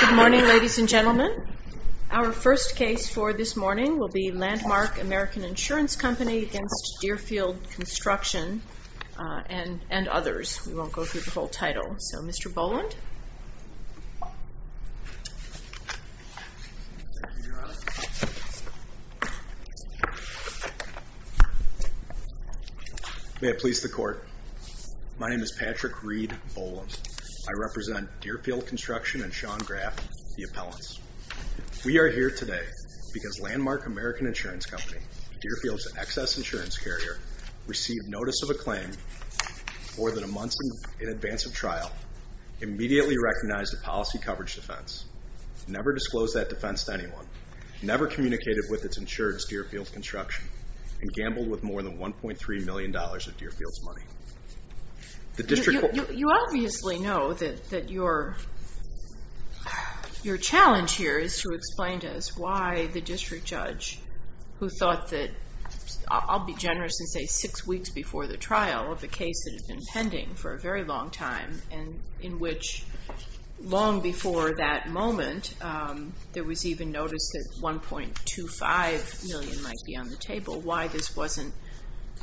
Good morning, ladies and gentlemen. Our first case for this morning will be Landmark American Insurance Company v. Deerfield Construction and others. We won't go through the whole title. So, Mr. Boland? May it please the Court. My name is Patrick Reed Boland. I represent Deerfield Construction and Sean Graff, the appellants. We are here today because Landmark American Insurance Company, Deerfield's excess insurance carrier, received notice of a claim more than a month in advance of trial, immediately recognized a policy coverage defense, never disclosed that defense to anyone, never communicated with its insurance, Deerfield Construction, and gambled with more than $1.3 million of Deerfield's money. You obviously know that your challenge here is to explain to us why the district judge, who thought that, I'll be generous and say six weeks before the trial, of a case that had been pending for a very long time, and in which long before that moment there was even notice that $1.25 million might be on the table, why this wasn't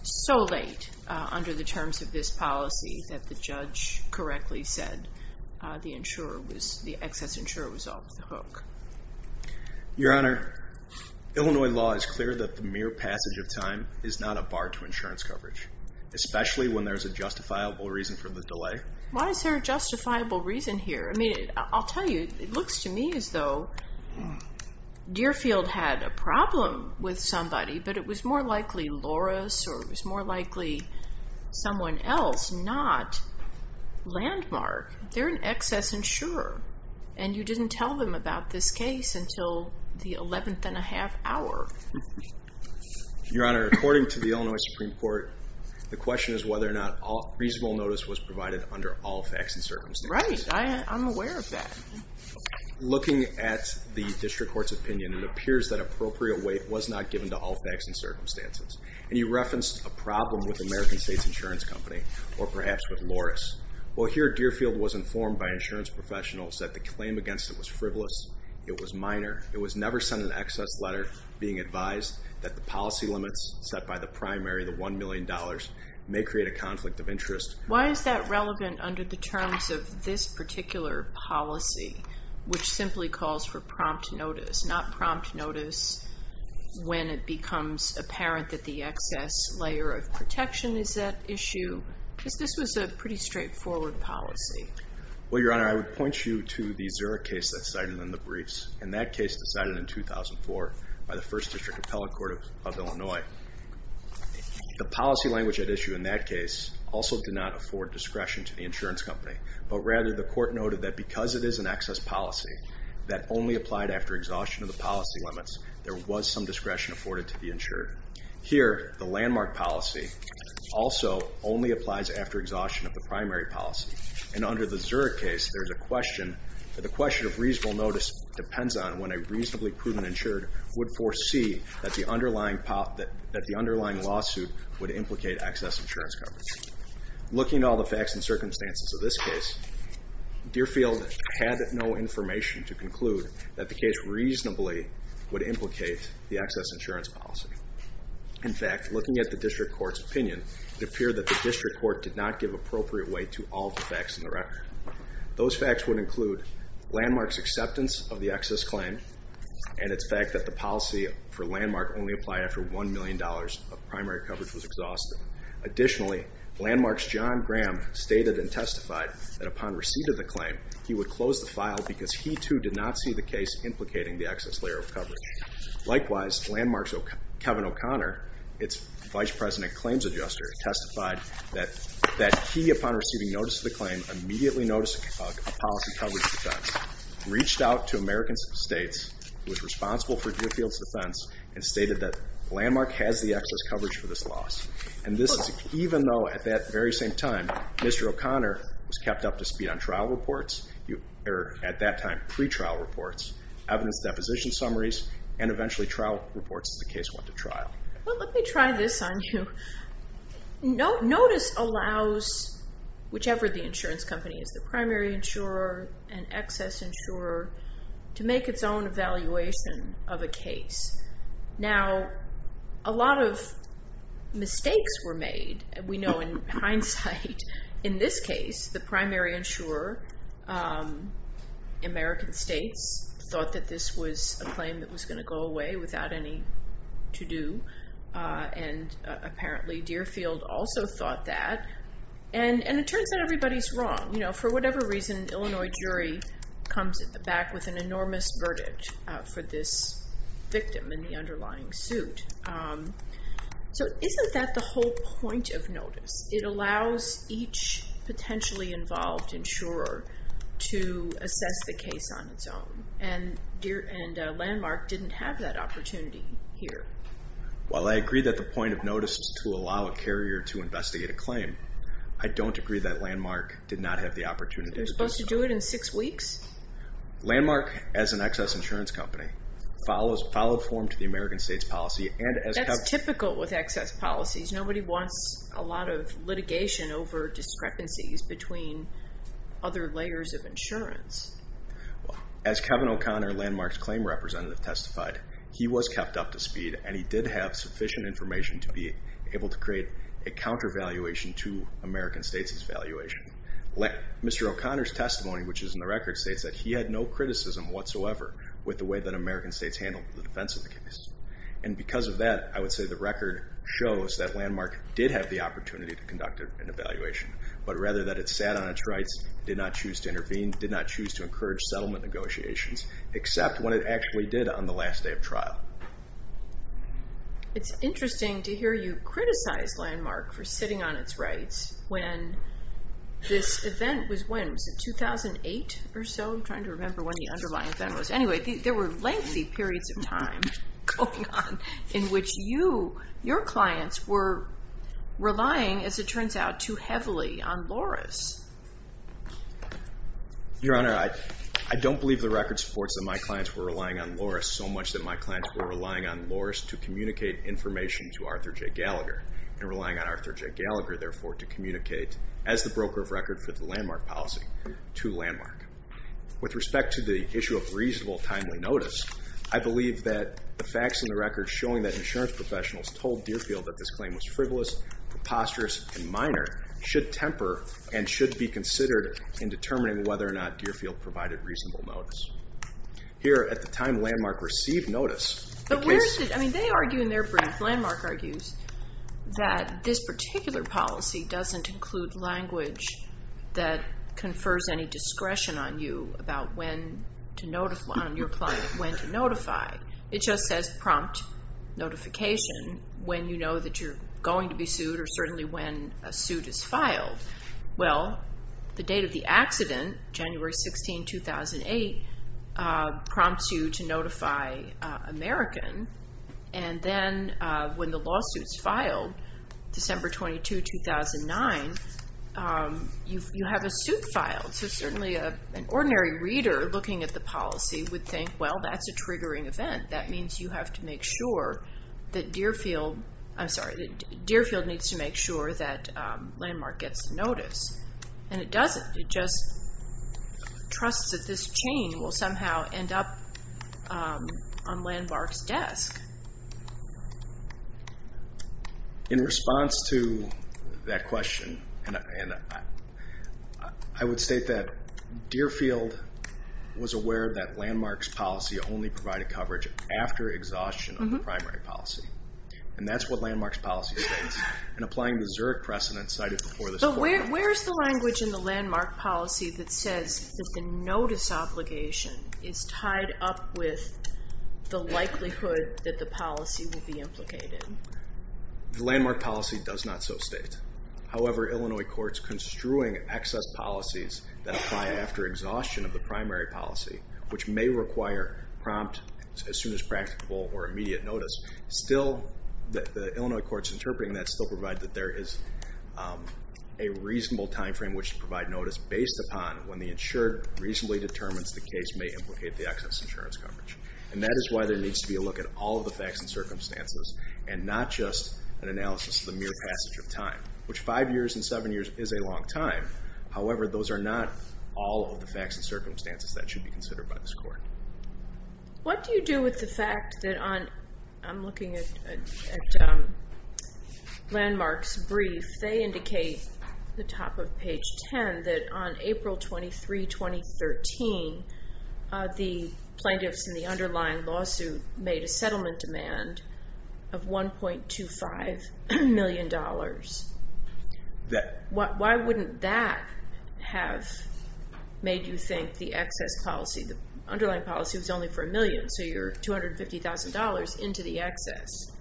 so late under the terms of this policy that the judge correctly said the excess insurer was off the hook. Your Honor, Illinois law is clear that the mere passage of time is not a bar to insurance coverage, especially when there is a justifiable reason for the delay. Why is there a justifiable reason here? I'll tell you, it looks to me as though Deerfield had a problem with somebody, but it was more likely Loris or it was more likely someone else, not Landmark. They're an excess insurer, and you didn't tell them about this case until the 11th and a half hour. Your Honor, according to the Illinois Supreme Court, the question is whether or not reasonable notice was provided under all facts and circumstances. Right, I'm aware of that. Looking at the district court's opinion, it appears that appropriate weight was not given to all facts and circumstances, and you referenced a problem with American States Insurance Company or perhaps with Loris. Well, here Deerfield was informed by insurance professionals that the claim against it was frivolous, it was minor, it was never sent an excess letter being advised that the policy limits set by the primary, the $1 million, may create a conflict of interest. Why is that relevant under the terms of this particular policy, which simply calls for prompt notice, not prompt notice when it becomes apparent that the excess layer of protection is at issue? Because this was a pretty straightforward policy. Well, Your Honor, I would point you to the Zurich case that's cited in the briefs, and that case decided in 2004 by the First District Appellate Court of Illinois. The policy language at issue in that case also did not afford discretion to the insurance company, but rather the court noted that because it is an excess policy that only applied after exhaustion of the policy limits, there was some discretion afforded to the insured. Here, the landmark policy also only applies after exhaustion of the primary policy, and under the Zurich case, there's a question, the question of reasonable notice depends on when a reasonably prudent insured would foresee that the underlying lawsuit would implicate excess insurance coverage. Looking at all the facts and circumstances of this case, Deerfield had no information to conclude that the case reasonably would implicate the excess insurance policy. In fact, looking at the district court's opinion, it appeared that the district court did not give appropriate weight to all the facts in the record. Those facts would include Landmark's acceptance of the excess claim and its fact that the policy for Landmark only applied after $1 million of primary coverage was exhausted. Additionally, Landmark's John Graham stated and testified that upon receipt of the claim, he would close the file because he, too, did not see the case implicating the excess layer of coverage. Likewise, Landmark's Kevin O'Connor, its Vice President Claims Adjuster, testified that he, upon receiving notice of the claim, immediately noticed a policy coverage defense, reached out to American States, was responsible for Deerfield's defense, and stated that Landmark has the excess coverage for this loss. And this is even though at that very same time, Mr. O'Connor was kept up to speed on trial reports, or at that time, pretrial reports, evidence deposition summaries, and eventually trial reports as the case went to trial. Well, let me try this on you. Notice allows whichever the insurance company is, the primary insurer, an excess insurer, to make its own evaluation of a case. Now, a lot of mistakes were made. We know in hindsight, in this case, the primary insurer, American States, thought that this was a claim that was going to go away without any to-do, and apparently Deerfield also thought that. And it turns out everybody's wrong. You know, for whatever reason, an Illinois jury comes back with an enormous verdict for this victim in the underlying suit. So isn't that the whole point of notice? It allows each potentially involved insurer to assess the case on its own, and Landmark didn't have that opportunity here. Well, I agree that the point of notice is to allow a carrier to investigate a claim. I don't agree that Landmark did not have the opportunity. They're supposed to do it in six weeks? Landmark, as an excess insurance company, followed form to the American States policy. That's typical with excess policies. Nobody wants a lot of litigation over discrepancies between other layers of insurance. As Kevin O'Connor, Landmark's claim representative, testified, he was kept up to speed, and he did have sufficient information to be able to create a counter-evaluation to American States' evaluation. Mr. O'Connor's testimony, which is in the record, states that he had no criticism whatsoever with the way that American States handled the defense of the case. And because of that, I would say the record shows that Landmark did have the opportunity to conduct an evaluation, but rather that it sat on its rights, did not choose to intervene, did not choose to encourage settlement negotiations, except when it actually did on the last day of trial. It's interesting to hear you criticize Landmark for sitting on its rights when this event was when? Was it 2008 or so? I'm trying to remember when the underlying event was. Anyway, there were lengthy periods of time going on in which your clients were relying, as it turns out, too heavily on LORIS. Your Honor, I don't believe the record supports that my clients were relying on LORIS so much that my clients were relying on LORIS to communicate information to Arthur J. Gallagher and relying on Arthur J. Gallagher, therefore, to communicate, as the broker of record for the Landmark policy, to Landmark. With respect to the issue of reasonable timely notice, I believe that the facts in the record showing that insurance professionals told Deerfield that this claim was frivolous, preposterous, and minor should temper and should be considered in determining whether or not Deerfield provided reasonable notice. Here, at the time Landmark received notice, the case... But where is it? I mean, they argue in their brief, Landmark argues, that this particular policy doesn't include language that confers any discretion on you about when to notify... on your client when to notify. It just says prompt notification when you know that you're going to be sued or certainly when a suit is filed. Well, the date of the accident, January 16, 2008, prompts you to notify American, and then when the lawsuit's filed, December 22, 2009, you have a suit filed. So certainly an ordinary reader looking at the policy would think, well, that's a triggering event. That means you have to make sure that Deerfield... I'm sorry, that Deerfield needs to make sure that Landmark gets notice. And it doesn't. It just trusts that this chain will somehow end up on Landmark's desk. In response to that question, I would state that Deerfield was aware that Landmark's policy only provided coverage after exhaustion of the primary policy. And that's what Landmark's policy states. And applying the Zurich precedent cited before this court... Where is the language in the Landmark policy that says that the notice obligation is tied up with the likelihood that the policy will be implicated? The Landmark policy does not so state. However, Illinois courts construing excess policies that apply after exhaustion of the primary policy, which may require prompt, as soon as practicable, or immediate notice, the Illinois courts interpreting that still provide that there is a reasonable time frame which to provide notice based upon when the insured reasonably determines the case may implicate the excess insurance coverage. And that is why there needs to be a look at all of the facts and circumstances and not just an analysis of the mere passage of time, which five years and seven years is a long time. However, those are not all of the facts and circumstances that should be considered by this court. What do you do with the fact that on... I'm looking at Landmark's brief. They indicate at the top of page 10 that on April 23, 2013, the plaintiffs in the underlying lawsuit made a settlement demand of $1.25 million. Why wouldn't that have made you think the excess policy, the underlying policy was only for a million, so you're $250,000 into the excess?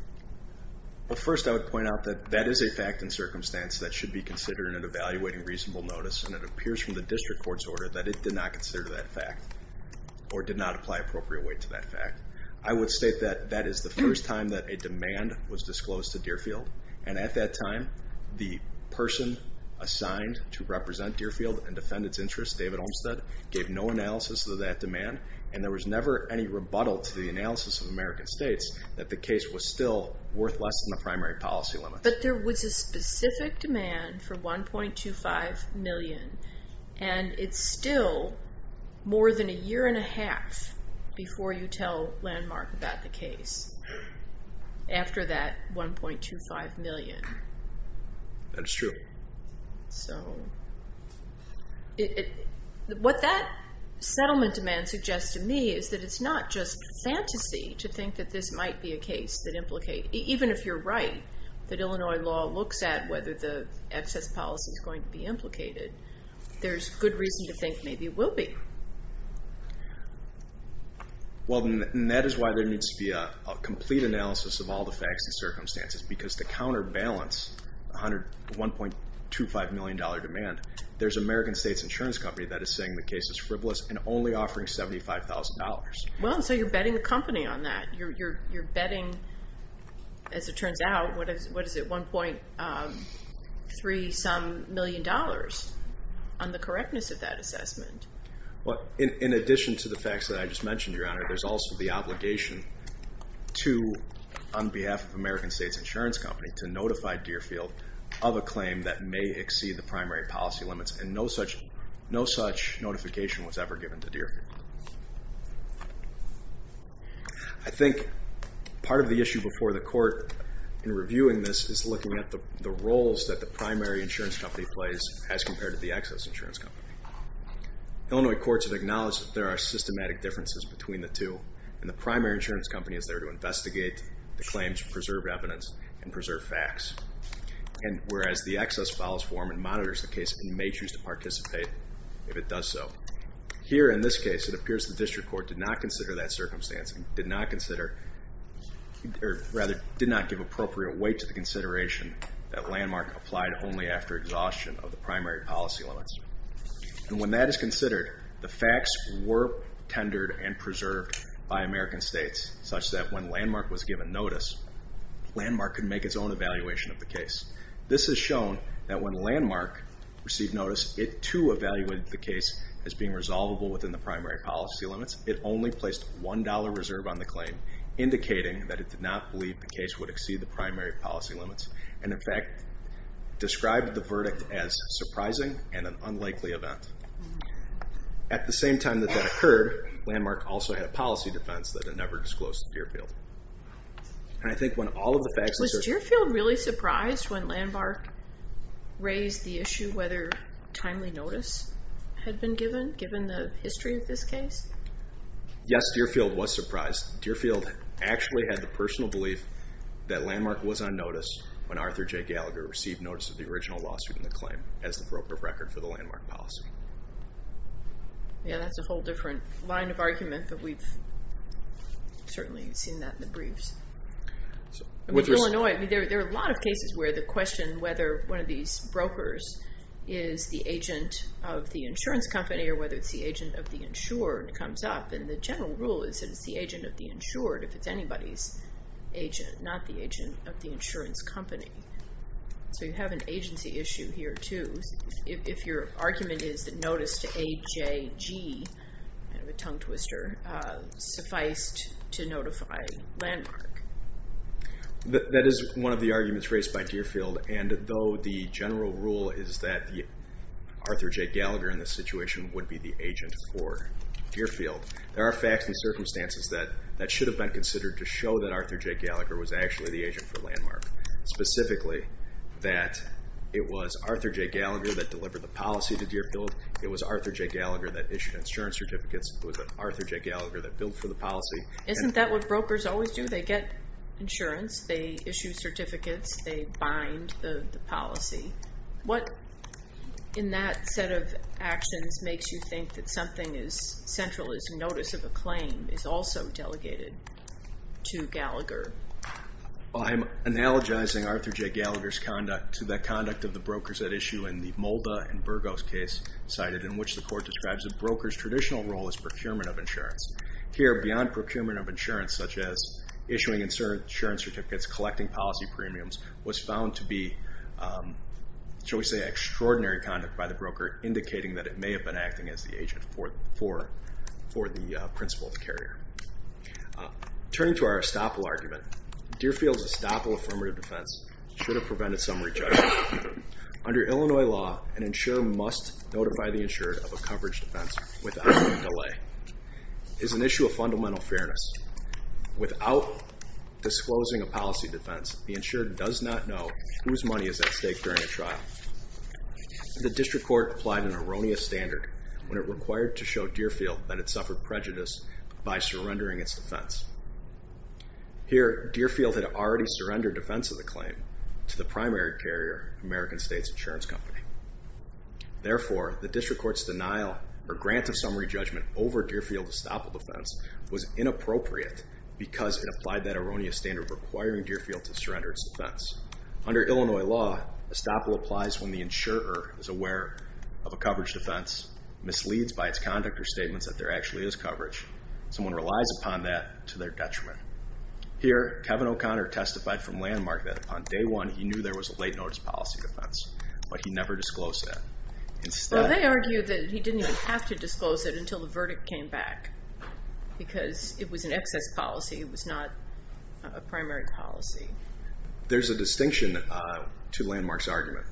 Well, first I would point out that that is a fact and circumstance that should be considered in evaluating reasonable notice, and it appears from the district court's order that it did not consider that fact or did not apply appropriate weight to that fact. I would state that that is the first time that a demand was disclosed to Deerfield, and at that time the person assigned to represent Deerfield and defend its interests, David Olmstead, gave no analysis of that demand, and there was never any rebuttal to the analysis of American states that the case was still worth less than the primary policy limit. But there was a specific demand for $1.25 million, and it's still more than a year and a half before you tell Landmark about the case, after that $1.25 million. That is true. So what that settlement demand suggests to me is that it's not just fantasy to think that this might be a case that implicate, even if you're right, that Illinois law looks at whether the excess policy is going to be implicated. There's good reason to think maybe it will be. Well, and that is why there needs to be a complete analysis of all the facts and circumstances because to counterbalance the $1.25 million demand, there's an American states insurance company that is saying the case is frivolous and only offering $75,000. Well, and so you're betting the company on that. You're betting, as it turns out, what is it, $1.3-some million on the correctness of that assessment. Well, in addition to the facts that I just mentioned, Your Honor, there's also the obligation to, on behalf of American States Insurance Company, to notify Deerfield of a claim that may exceed the primary policy limits, and no such notification was ever given to Deerfield. I think part of the issue before the court in reviewing this is looking at the roles that the primary insurance company plays as compared to the excess insurance company. Illinois courts have acknowledged that there are systematic differences between the two, and the primary insurance company is there to investigate the claims, preserve evidence, and preserve facts, and whereas the excess follows form and monitors the case, it may choose to participate if it does so. Here in this case, it appears the district court did not consider that circumstance and did not consider, or rather did not give appropriate weight to the consideration that Landmark applied only after exhaustion of the primary policy limits. When that is considered, the facts were tendered and preserved by American States, such that when Landmark was given notice, Landmark could make its own evaluation of the case. This has shown that when Landmark received notice, it too evaluated the case as being resolvable within the primary policy limits. It only placed $1.00 reserve on the claim, indicating that it did not believe the case would exceed the primary policy limits, and in fact described the verdict as surprising and an unlikely event. At the same time that that occurred, Landmark also had a policy defense that it never disclosed to Deerfield. Was Deerfield really surprised when Landmark raised the issue whether timely notice had been given, given the history of this case? Yes, Deerfield was surprised. Deerfield actually had the personal belief that Landmark was on notice when Arthur J. Gallagher received notice of the original lawsuit and the claim as the broker of record for the Landmark policy. Yeah, that's a whole different line of argument, but we've certainly seen that in the briefs. In Illinois, there are a lot of cases where the question whether one of these brokers is the agent of the insurance company or whether it's the agent of the insurer comes up, and the general rule is that it's the agent of the insured if it's anybody's agent, not the agent of the insurance company. So you have an agency issue here too. If your argument is that notice to AJG, kind of a tongue twister, sufficed to notify Landmark. That is one of the arguments raised by Deerfield, and though the general rule is that Arthur J. Gallagher in this situation would be the agent for Deerfield, there are facts and circumstances that should have been considered to show that Arthur J. Gallagher was actually the agent for Landmark, specifically that it was Arthur J. Gallagher that delivered the policy to Deerfield, it was Arthur J. Gallagher that issued insurance certificates, it was Arthur J. Gallagher that built for the policy. Isn't that what brokers always do? They get insurance, they issue certificates, they bind the policy. What in that set of actions makes you think that something as central as notice of a claim is also delegated to Gallagher? Well, I'm analogizing Arthur J. Gallagher's conduct to the conduct of the brokers at issue in the Molda and Burgos case cited in which the court describes a broker's traditional role as procurement of insurance. Here, beyond procurement of insurance, such as issuing insurance certificates, collecting policy premiums, was found to be, shall we say, extraordinary conduct by the broker, indicating that it may have been acting as the agent for the principal carrier. Turning to our estoppel argument, Deerfield's estoppel affirmative defense should have prevented some rejection. Under Illinois law, an insurer must notify the insurer of a coverage defense without any delay. It's an issue of fundamental fairness. Without disclosing a policy defense, the insurer does not know whose money is at stake during a trial. The district court applied an erroneous standard when it required to show Deerfield that it suffered prejudice by surrendering its defense. Here, Deerfield had already surrendered defense of the claim to the primary carrier, American States Insurance Company. Therefore, the district court's denial or grant of summary judgment over Deerfield's estoppel defense was inappropriate because it applied that erroneous standard requiring Deerfield to surrender its defense. Under Illinois law, estoppel applies when the insurer is aware of a coverage defense, misleads by its conduct or statements that there actually is coverage. Someone relies upon that to their detriment. Here, Kevin O'Connor testified from landmark that upon day one, he knew there was a late notice policy defense, but he never disclosed that. Well, they argue that he didn't even have to disclose it until the verdict came back because it was an excess policy. It was not a primary policy. There's a distinction to landmark's argument.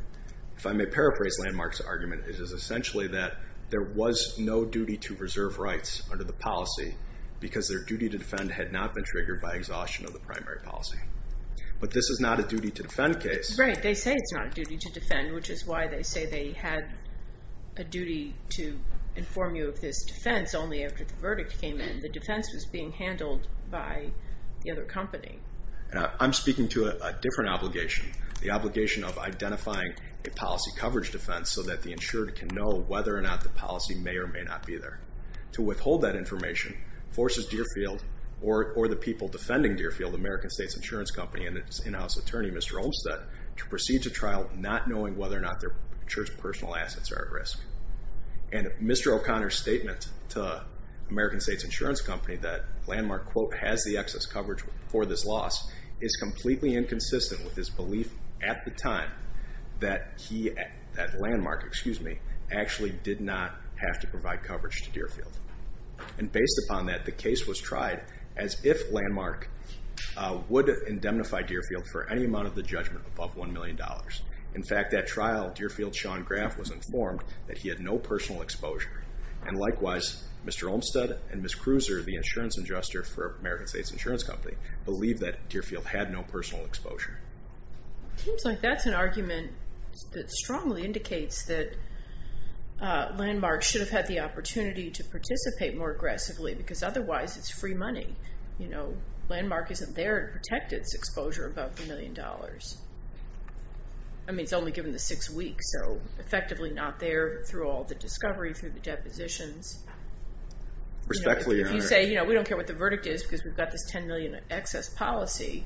If I may paraphrase landmark's argument, it is essentially that there was no duty to reserve rights under the policy because their duty to defend had not been triggered by exhaustion of the primary policy. But this is not a duty to defend case. Right. They say it's not a duty to defend, which is why they say they had a duty to inform you of this defense only after the verdict came in. The defense was being handled by the other company. I'm speaking to a different obligation, the obligation of identifying a policy coverage defense so that the insurer can know whether or not the policy may or may not be there. To withhold that information forces Deerfield or the people defending Deerfield, American States Insurance Company and its in-house attorney, Mr. Olmstead, to proceed to trial not knowing whether or not their personal assets are at risk. And Mr. O'Connor's statement to American States Insurance Company that landmark, quote, has the excess coverage for this loss is completely inconsistent with his belief at the time that landmark actually did not have to provide coverage to Deerfield. And based upon that, the case was tried as if landmark would indemnify Deerfield for any amount of the judgment above $1 million. In fact, at trial, Deerfield's Sean Graff was informed that he had no personal exposure. And likewise, Mr. Olmstead and Ms. Cruiser, the insurance adjuster for American States Insurance Company, believed that Deerfield had no personal exposure. It seems like that's an argument that strongly indicates that landmark should have had the opportunity to participate more aggressively because otherwise it's free money. Landmark isn't there to protect its exposure above $1 million. I mean, it's only given the six weeks, so effectively not there through all the discovery, through the depositions. If you say, you know, we don't care what the verdict is because we've got this $10 million excess policy,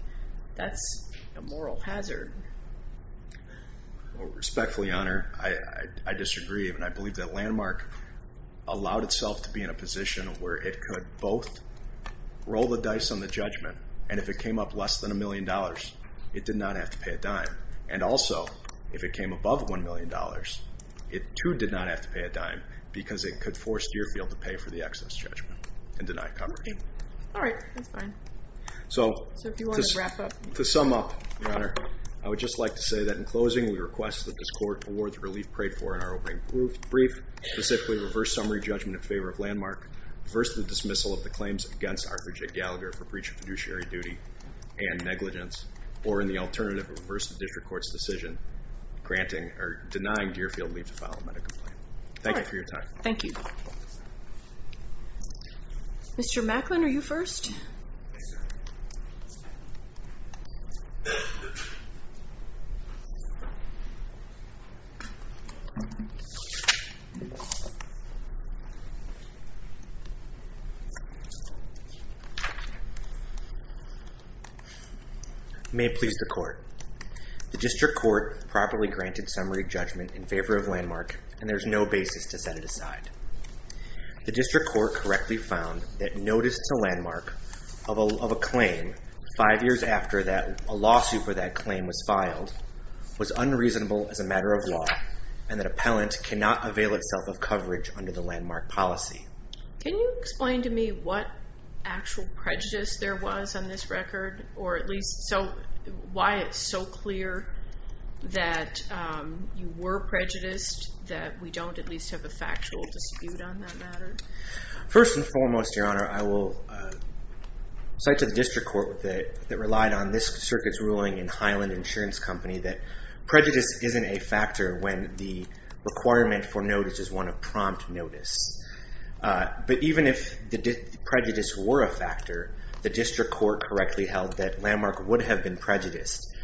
that's a moral hazard. Respectfully, Your Honor, I disagree. And I believe that landmark allowed itself to be in a position where it could both roll the dice on the judgment, and if it came up less than $1 million, it did not have to pay a dime. And also, if it came above $1 million, it too did not have to pay a dime because it could force Deerfield to pay for the excess judgment and deny coverage. All right, that's fine. So to sum up, Your Honor, I would just like to say that in closing, we request that this Court award the relief paid for in our opening brief, specifically reverse summary judgment in favor of landmark, reverse the dismissal of the claims against Arthur J. Gallagher for breach of fiduciary duty and negligence, or in the alternative, reverse the district court's decision denying Deerfield leave to file a medical complaint. Thank you for your time. Thank you. Mr. Macklin, are you first? Yes, sir. May it please the Court. The district court properly granted summary judgment in favor of landmark, and there is no basis to set it aside. The district court correctly found that notice to landmark of a claim five years after a lawsuit for that claim was filed was unreasonable as a matter of law, and that appellant cannot avail itself of coverage under the landmark policy. Can you explain to me what actual prejudice there was on this record, or at least why it's so clear that you were prejudiced, that we don't at least have a factual dispute on that matter? First and foremost, Your Honor, I will cite to the district court that relied on this circuit's ruling in Highland Insurance Company that prejudice isn't a factor when the requirement for notice is one of prompt notice. But even if the prejudice were a factor, the district court correctly held that landmark would have been prejudiced.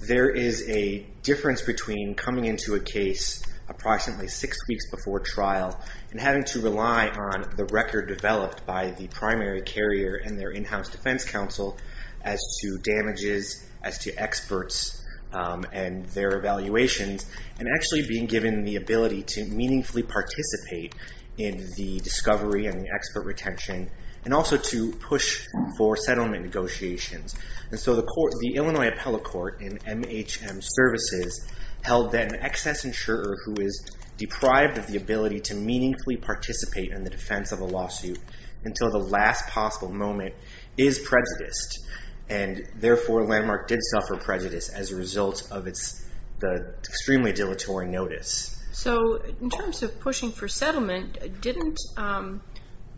There is a difference between coming into a case approximately six weeks before trial and having to rely on the record developed by the primary carrier and their in-house defense counsel as to damages, as to experts and their evaluations, and actually being given the ability to meaningfully participate in the discovery and the expert retention, and also to push for settlement negotiations. And so the Illinois Appellate Court in MHM Services held that an excess insurer who is deprived of the ability to meaningfully participate in the defense of a lawsuit until the last possible moment is prejudiced, and therefore landmark did suffer prejudice as a result of the extremely dilatory notice. So in terms of pushing for settlement, didn't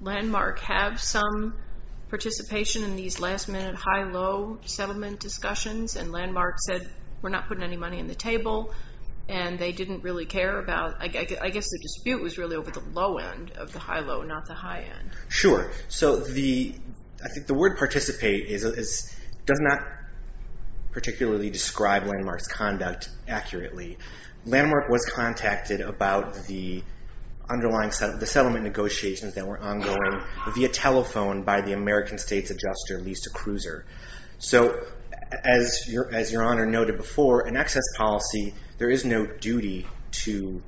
landmark have some participation in these last-minute high-low settlement discussions? And landmark said, we're not putting any money on the table, and they didn't really care about... I guess the dispute was really over the low end of the high-low, not the high end. Sure. So I think the word participate does not particularly describe landmark's conduct accurately. Landmark was contacted about the underlying... the settlement negotiations that were ongoing via telephone by the American States adjuster, Lisa Kruiser. So as Your Honor noted before, an excess policy, there is no duty to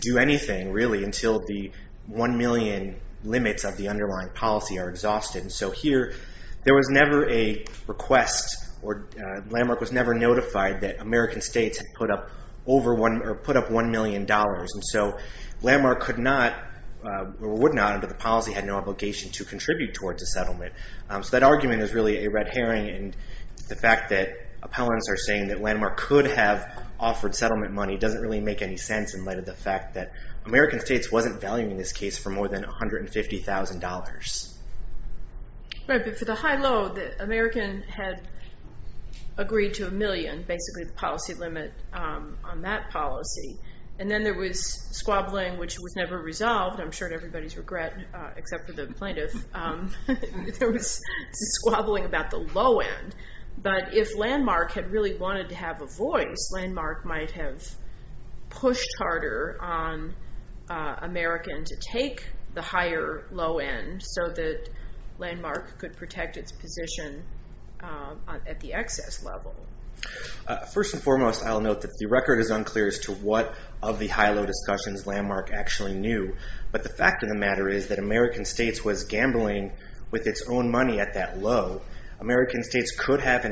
do anything, really, until the one million limits of the underlying policy are exhausted. So here, there was never a request, or landmark was never notified that American states had put up one million dollars, and so landmark could not, or would not, under the policy, had no obligation to contribute towards a settlement. So that argument is really a red herring, and the fact that appellants are saying that landmark could have offered settlement money doesn't really make any sense in light of the fact that American states wasn't valuing this case for more than $150,000. Right, but for the high-low, the American had agreed to a million, basically the policy limit on that policy, and then there was squabbling, which was never resolved. I'm sure everybody's regret, except for the plaintiff. There was squabbling about the low end, but if landmark had really wanted to have a voice, landmark might have pushed harder on American to take the higher low end, so that landmark could protect its position at the excess level. First and foremost, I'll note that the record is unclear as to what of the high-low discussions landmark actually knew, but the fact of the matter is that American states was gambling with its own money at that low. American states could have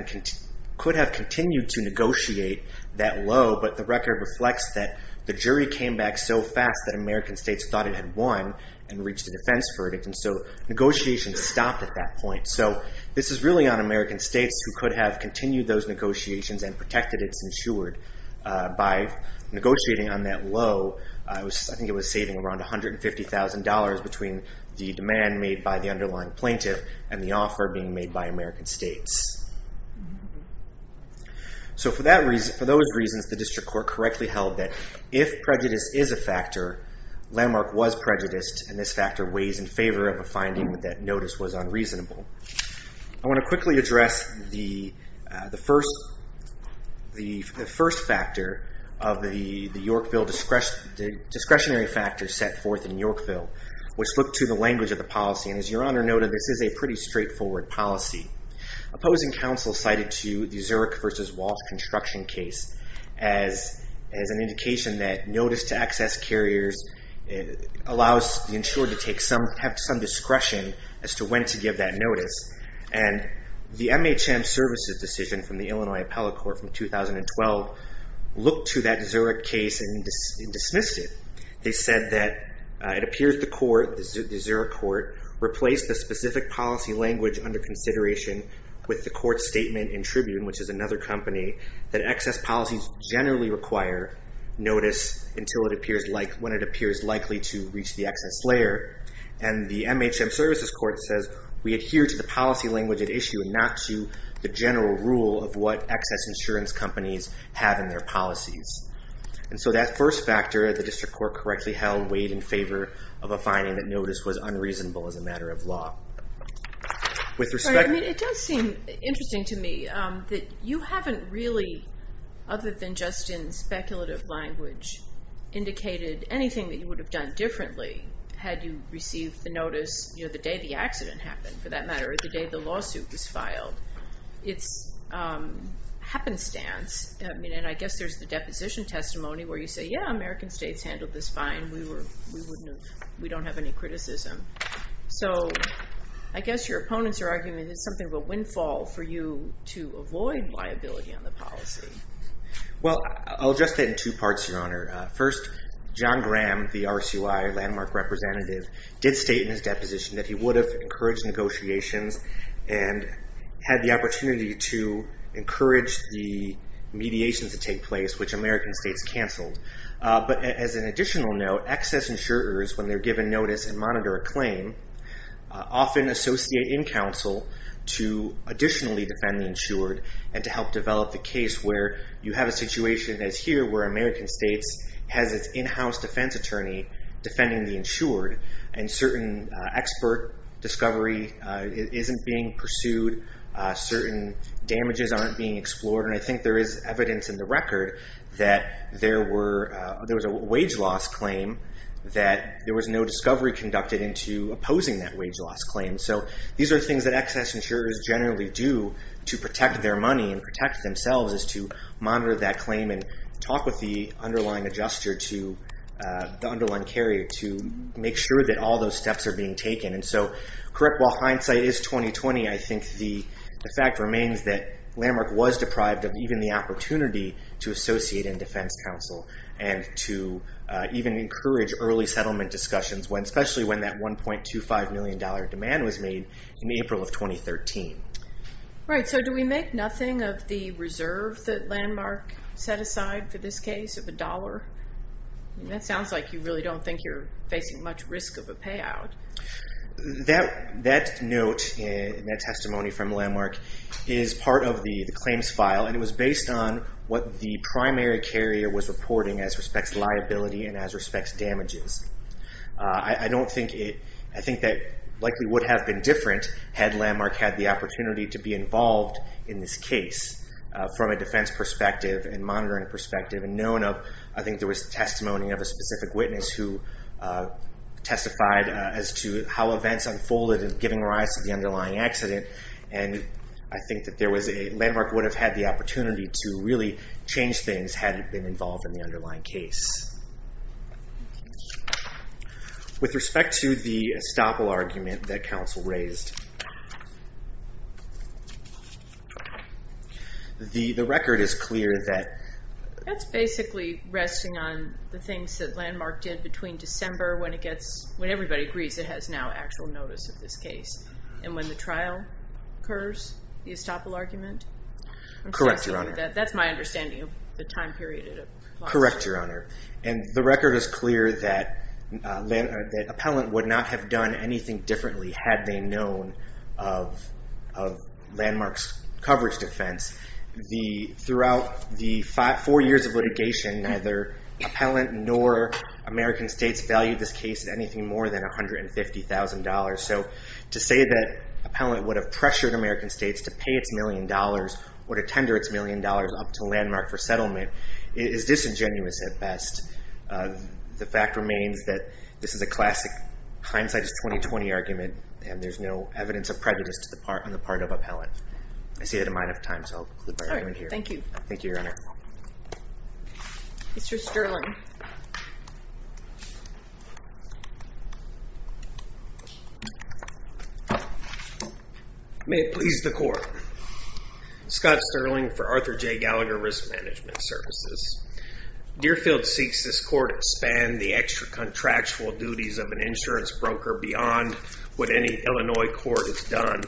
continued to negotiate that low, but the record reflects that the jury came back so fast that American states thought it had won and reached a defense verdict, and so negotiations stopped at that point. This is really on American states who could have continued those negotiations and protected its insured by negotiating on that low. I think it was saving around $150,000 between the demand made by the underlying plaintiff and the offer being made by American states. if prejudice is a factor, landmark was prejudiced, and this factor weighs in favor of a finding that notice was unreasonable. I want to quickly address the first factor of the discretionary factor set forth in Yorkville, which looked to the language of the policy, and as your honor noted, this is a pretty straightforward policy. Opposing counsel cited to the Zurich versus Walsh construction case as an indication that notice to access carriers allows the insured to have some discretion as to when to give that notice, and the MHM services decision from the Illinois appellate court from 2012 looked to that Zurich case and dismissed it. They said that it appears the court, the Zurich court, replaced the specific policy language under consideration with the court statement in Tribune, which is another company, that excess policies generally require notice when it appears likely to reach the excess layer, and the MHM services court says we adhere to the policy language at issue and not to the general rule of what excess insurance companies have in their policies. So that first factor, the district court correctly held, It does seem interesting to me that you haven't really, other than just in speculative language, indicated anything that you would have done differently had you received the notice the day the accident happened, for that matter, or the day the lawsuit was filed. It's happenstance, and I guess there's the deposition testimony where you say, yeah, American states handled this fine, we don't have any criticism. So I guess your opponents are arguing that it's something of a windfall for you to avoid liability on the policy. Well, I'll address that in two parts, Your Honor. First, John Graham, the RCY landmark representative, did state in his deposition that he would have encouraged negotiations and had the opportunity to encourage the mediations to take place, which American states canceled. But as an additional note, excess insurers, when they're given notice and monitor a claim, often associate in counsel to additionally defend the insured and to help develop the case where you have a situation that's here where American states has its in-house defense attorney defending the insured and certain expert discovery isn't being pursued, certain damages aren't being explored, and I think there is there was a wage loss claim that there was no discovery conducted into opposing that wage loss claim. So these are things that excess insurers generally do to protect their money and protect themselves is to monitor that claim and talk with the underlying adjuster to the underlying carrier to make sure that all those steps are being taken. While hindsight is 20-20, I think the fact remains that Landmark was deprived of even the and to even encourage early settlement discussions, especially when that $1.25 million demand was made in April of 2013. Right, so do we make nothing of the reserve that Landmark set aside for this case of a dollar? That sounds like you really don't think you're facing much risk of a payout. That note, that testimony from Landmark is part of the claims file and it was based on what the primary carrier was reporting as respects liability and as respects damages. I don't think it, I think that likely would have been different had Landmark had the opportunity to be involved in this case from a defense perspective and monitoring perspective and known of, I think there was testimony of a specific witness who testified as to how events unfolded and giving rise to the underlying accident and I think that Landmark would have had the opportunity to really change things had it been involved in the underlying case. With respect to the estoppel argument that counsel raised the record is clear that That's basically resting on the things that Landmark did between December when it gets, when everybody agrees it has now actual notice of this case and when the trial occurs, the estoppel argument? Correct, your honor. That's my understanding of the time period Correct, your honor. And the record is clear that appellant would not have done anything differently had they known of Landmark's coverage defense throughout the four years of litigation neither appellant nor American States valued this case at anything more than $150,000 so to say that appellant would have pressured American States to pay its million dollars or to tender its million dollars up to Landmark for settlement is disingenuous at best. The fact remains that this is a classic hindsightist 2020 argument and there's no evidence of prejudice on the part of appellant. I see that I'm out of time so I'll conclude my argument here. Thank you. Thank you, your honor. Mr. Sterling May it please the court Scott Sterling for Arthur J. Gallagher Risk Management Services. Deerfield seeks this court expand the extra contractual duties of an insurance broker beyond what any Illinois court has done.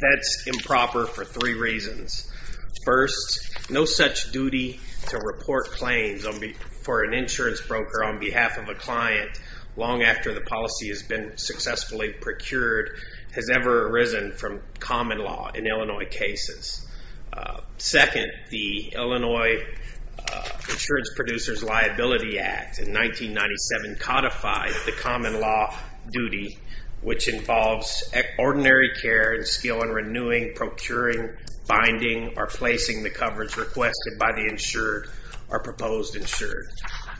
That's improper for three reasons. First, no such duty to report claims for an insurance broker on behalf of a client long after the policy has been successfully procured has ever arisen from common law in Illinois cases. Second, the Illinois Insurance Producers Liability Act in 1997 codified the common law duty which involves ordinary care and skill in renewing procuring, finding, or placing the coverage requested by the insured or proposed insured.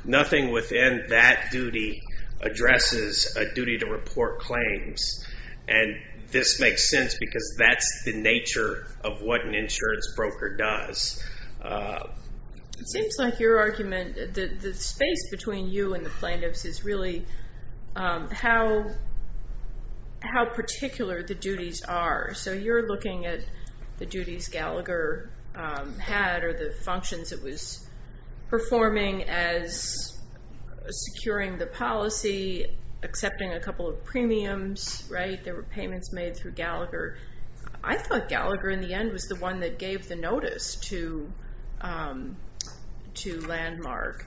Nothing within that duty addresses a duty to report claims and this makes sense because that's the nature of what an insurance broker does. It seems like your argument that the space between you and the plaintiffs is really how particular the duties are. So you're looking at the duties Gallagher had or the securing the policy, accepting a couple of premiums, right? There were payments made through Gallagher. I thought Gallagher in the end was the one that gave the notice to Landmark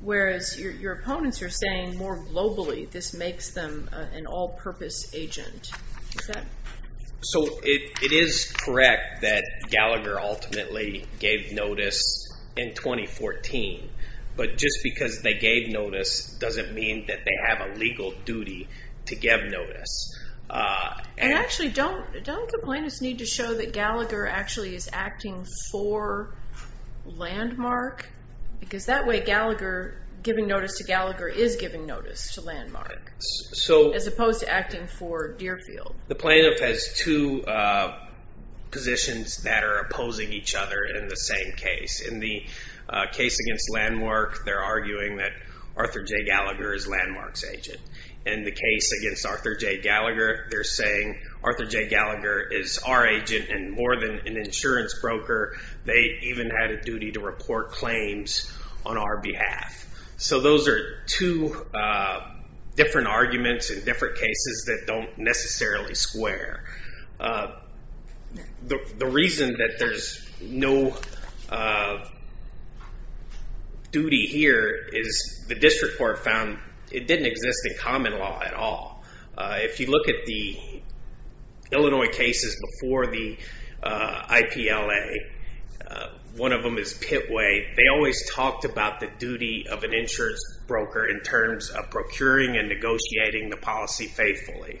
whereas your opponents are saying more globally this makes them an all-purpose agent. So it is correct that Gallagher ultimately gave notice in just because they gave notice doesn't mean that they have a legal duty to give notice. And actually don't the plaintiffs need to show that Gallagher actually is acting for Landmark because that way Gallagher giving notice to Gallagher is giving notice to Landmark as opposed to acting for Deerfield. The plaintiff has two positions that are opposing each other in the same case. In the case against Landmark they're arguing that Arthur J. Gallagher is Landmark's agent. In the case against Arthur J. Gallagher they're saying Arthur J. Gallagher is our agent and more than an insurance broker they even had a duty to report claims on our behalf. So those are two different arguments in different cases that don't necessarily square. The reason that there's no duty here is the district court found it didn't exist in common law at all. If you look at the Illinois cases before the IPLA one of them is Pitway. They always talked about the duty of an insurance broker in terms of procuring and negotiating the policy faithfully.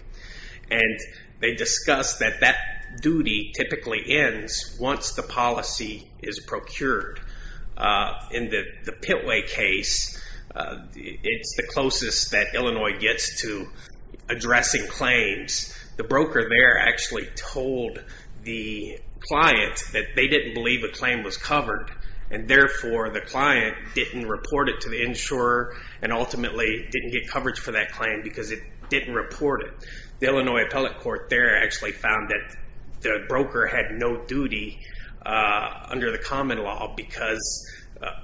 They discussed that that duty typically ends once the policy is procured. In the Pitway case it's the closest that Illinois gets to addressing claims. The broker there actually told the client that they didn't believe a claim was covered and therefore the client didn't report it to the insurer and reported. The Illinois appellate court there actually found that the broker had no duty under the common law because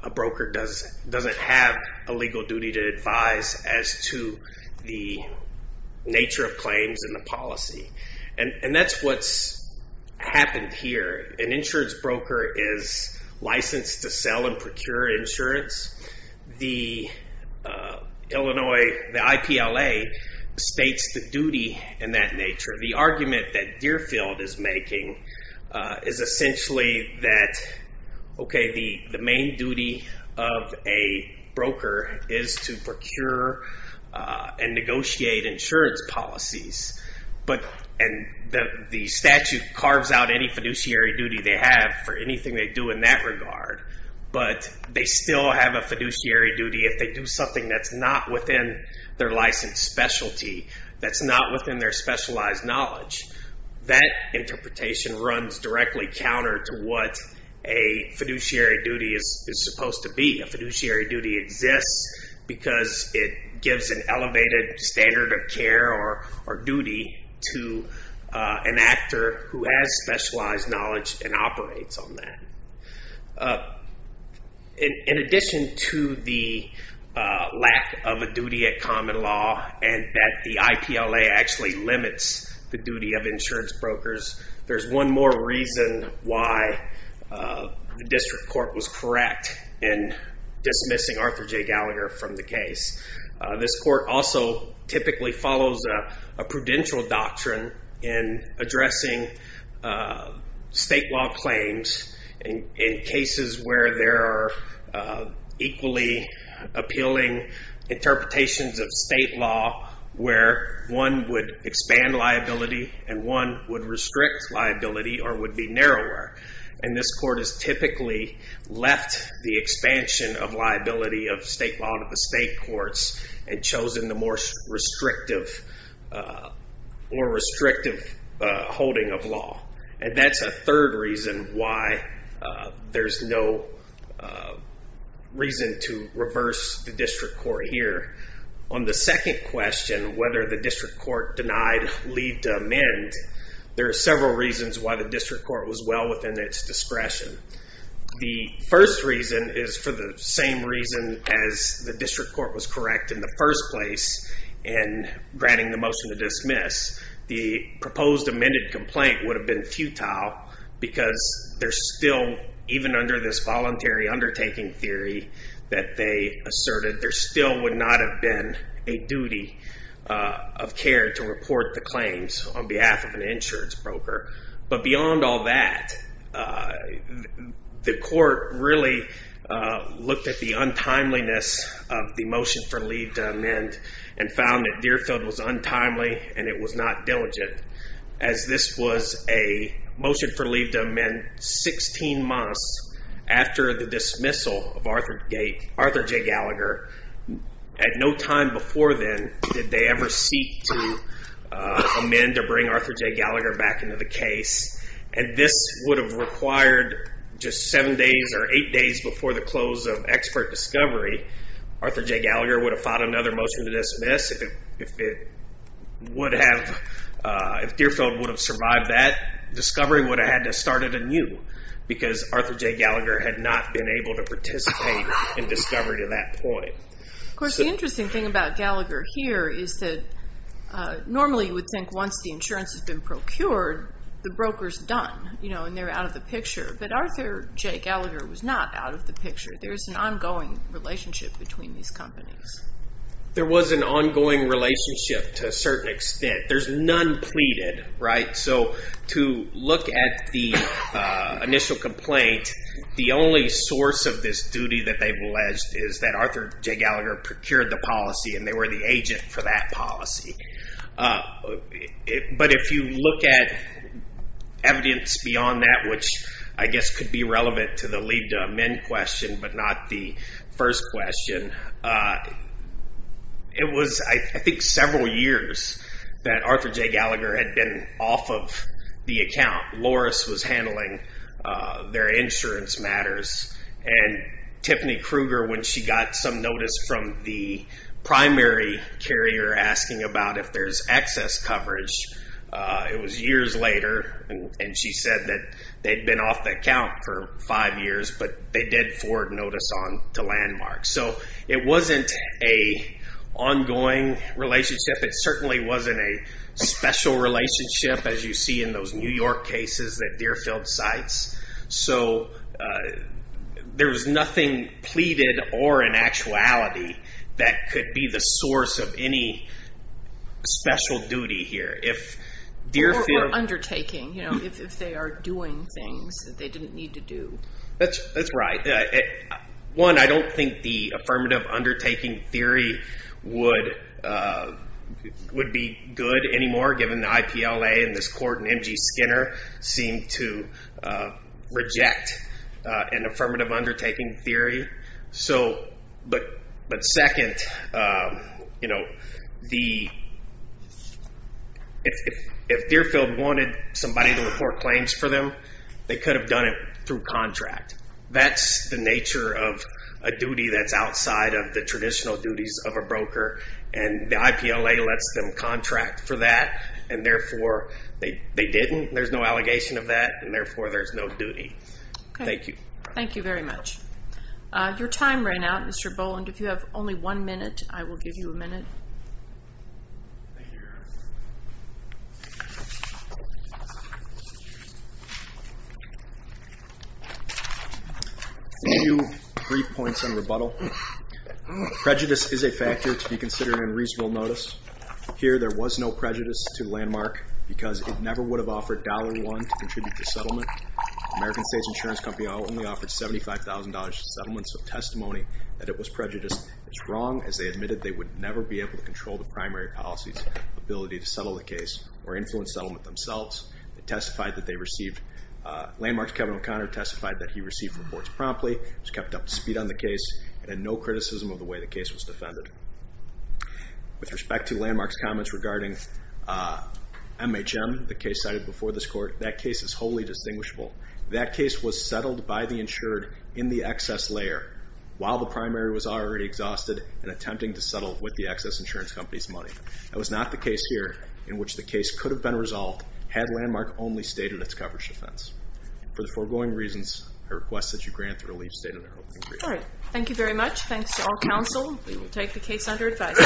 a broker doesn't have a legal duty to advise as to the nature of claims and the policy. And that's what's happened here. An insurance broker is licensed to sell and procure insurance. The IPLA states the duty in that nature. The argument that Deerfield is making is essentially that the main duty of a broker is to procure and negotiate insurance policies and the statute carves out any fiduciary duty they have for anything they do in that regard. But they still have a fiduciary duty if they do something that's not within their licensed specialty, that's not within their specialized knowledge. That interpretation runs directly counter to what a fiduciary duty is supposed to be. A fiduciary duty exists because it gives an elevated standard of care or duty to an actor who has specialized knowledge and operates on that. In addition to the lack of a duty at common law and that the IPLA actually limits the duty of insurance brokers, there's one more reason why the district court was correct in dismissing Arthur J. Gallagher from the case. This court also typically follows a prudential doctrine in addressing state law claims in cases where there are equally appealing interpretations of state law where one would expand liability and one would restrict liability or would be narrower. And this court has typically left the expansion of liability of state law to the state courts and chosen the more restrictive or restrictive holding of law. And that's a third reason why there's no reason to reverse the district court here. On the second question, whether the district court denied leave to amend, there are several reasons why the district court was well within its discretion. The first reason is for the same reason as the district court was correct in the first place in granting the motion to dismiss. The proposed amended complaint would have been futile because there's still, even under this voluntary undertaking theory that they asserted, there still would not have been a duty of care to report the claims on behalf of an insurance broker. But beyond all that, the court really looked at the untimeliness of the motion for leave to amend and found that Deerfield was untimely and it was not diligent as this was a motion for leave to amend 16 months after the dismissal of Arthur J. Gallagher. At no time before then did they ever seek to amend or bring Arthur J. Gallagher back into the case. And this would have required just 7 days or 8 days before the close of expert discovery. Arthur J. Gallagher would have fought another motion to dismiss if it would have if Deerfield would have survived that, discovery would have had to start anew because Arthur J. Gallagher had not been able to participate in discovery to that point. Of course the interesting thing about Gallagher here is that normally you would think once the insurance has been procured, the broker's done. And they're out of the picture. But Arthur J. Gallagher was not out of the picture. There's an ongoing relationship between these companies. There was an ongoing relationship to a certain extent. There's none pleaded. So to look at the initial complaint, the only source of this duty that they've alleged is that Arthur J. Gallagher procured the policy and they were the agent for that policy. But if you look at evidence beyond that which I guess could be relevant to the leave to amend question but not the first question, it was I think several years that Arthur J. Gallagher had been off of the account. Loris was handling their insurance matters and Tiffany Kruger when she got some notice from the primary carrier asking about if there's excess coverage. It was years later and she said that they'd been off the account for five years but they did forward notice on to Landmark. So it wasn't an ongoing relationship. It certainly wasn't a special relationship as you see in those New York cases that Deerfield cites. There was nothing pleaded or in force of any special duty here. Or undertaking. If they are doing things that they didn't need to do. That's right. One, I don't think the affirmative undertaking theory would be good anymore given the IPLA and this court and M.G. Skinner seem to reject an affirmative undertaking theory. But second, if Deerfield wanted somebody to report claims for them, they could have done it through contract. That's the nature of a duty that's outside of the traditional duties of a broker and the IPLA lets them contract for that and therefore they didn't. There's no allegation of that and therefore there's no duty. Thank you. Your time ran out Mr. Boland. If you have only one minute I will give you a minute. Brief points on rebuttal. Prejudice is a factor to be considered in reasonable notice. Here there was no prejudice to Landmark because it never would have offered dollar one to contribute to settlement. American State Insurance Company only offered $75,000 to settlement so testimony that it was prejudiced is wrong as they admitted they would never be able to control the primary policy's ability to settle the case or influence settlement themselves. They testified that they received Landmark's Kevin O'Connor testified that he received reports promptly was kept up to speed on the case and had no criticism of the way the case was defended. With respect to Landmark's comments regarding MHM the case cited before this court, that case is wholly distinguishable. That case was settled by the insured in the excess layer while the primary was already exhausted and attempting to settle with the excess insurance company's money. That was not the case here in which the case could have been resolved had Landmark only stated its coverage defense. For the foregoing reasons, I request that you grant the relief stated in the opening brief. Thank you very much. Thanks to all counsel. We will take the case under advisory. Thank you.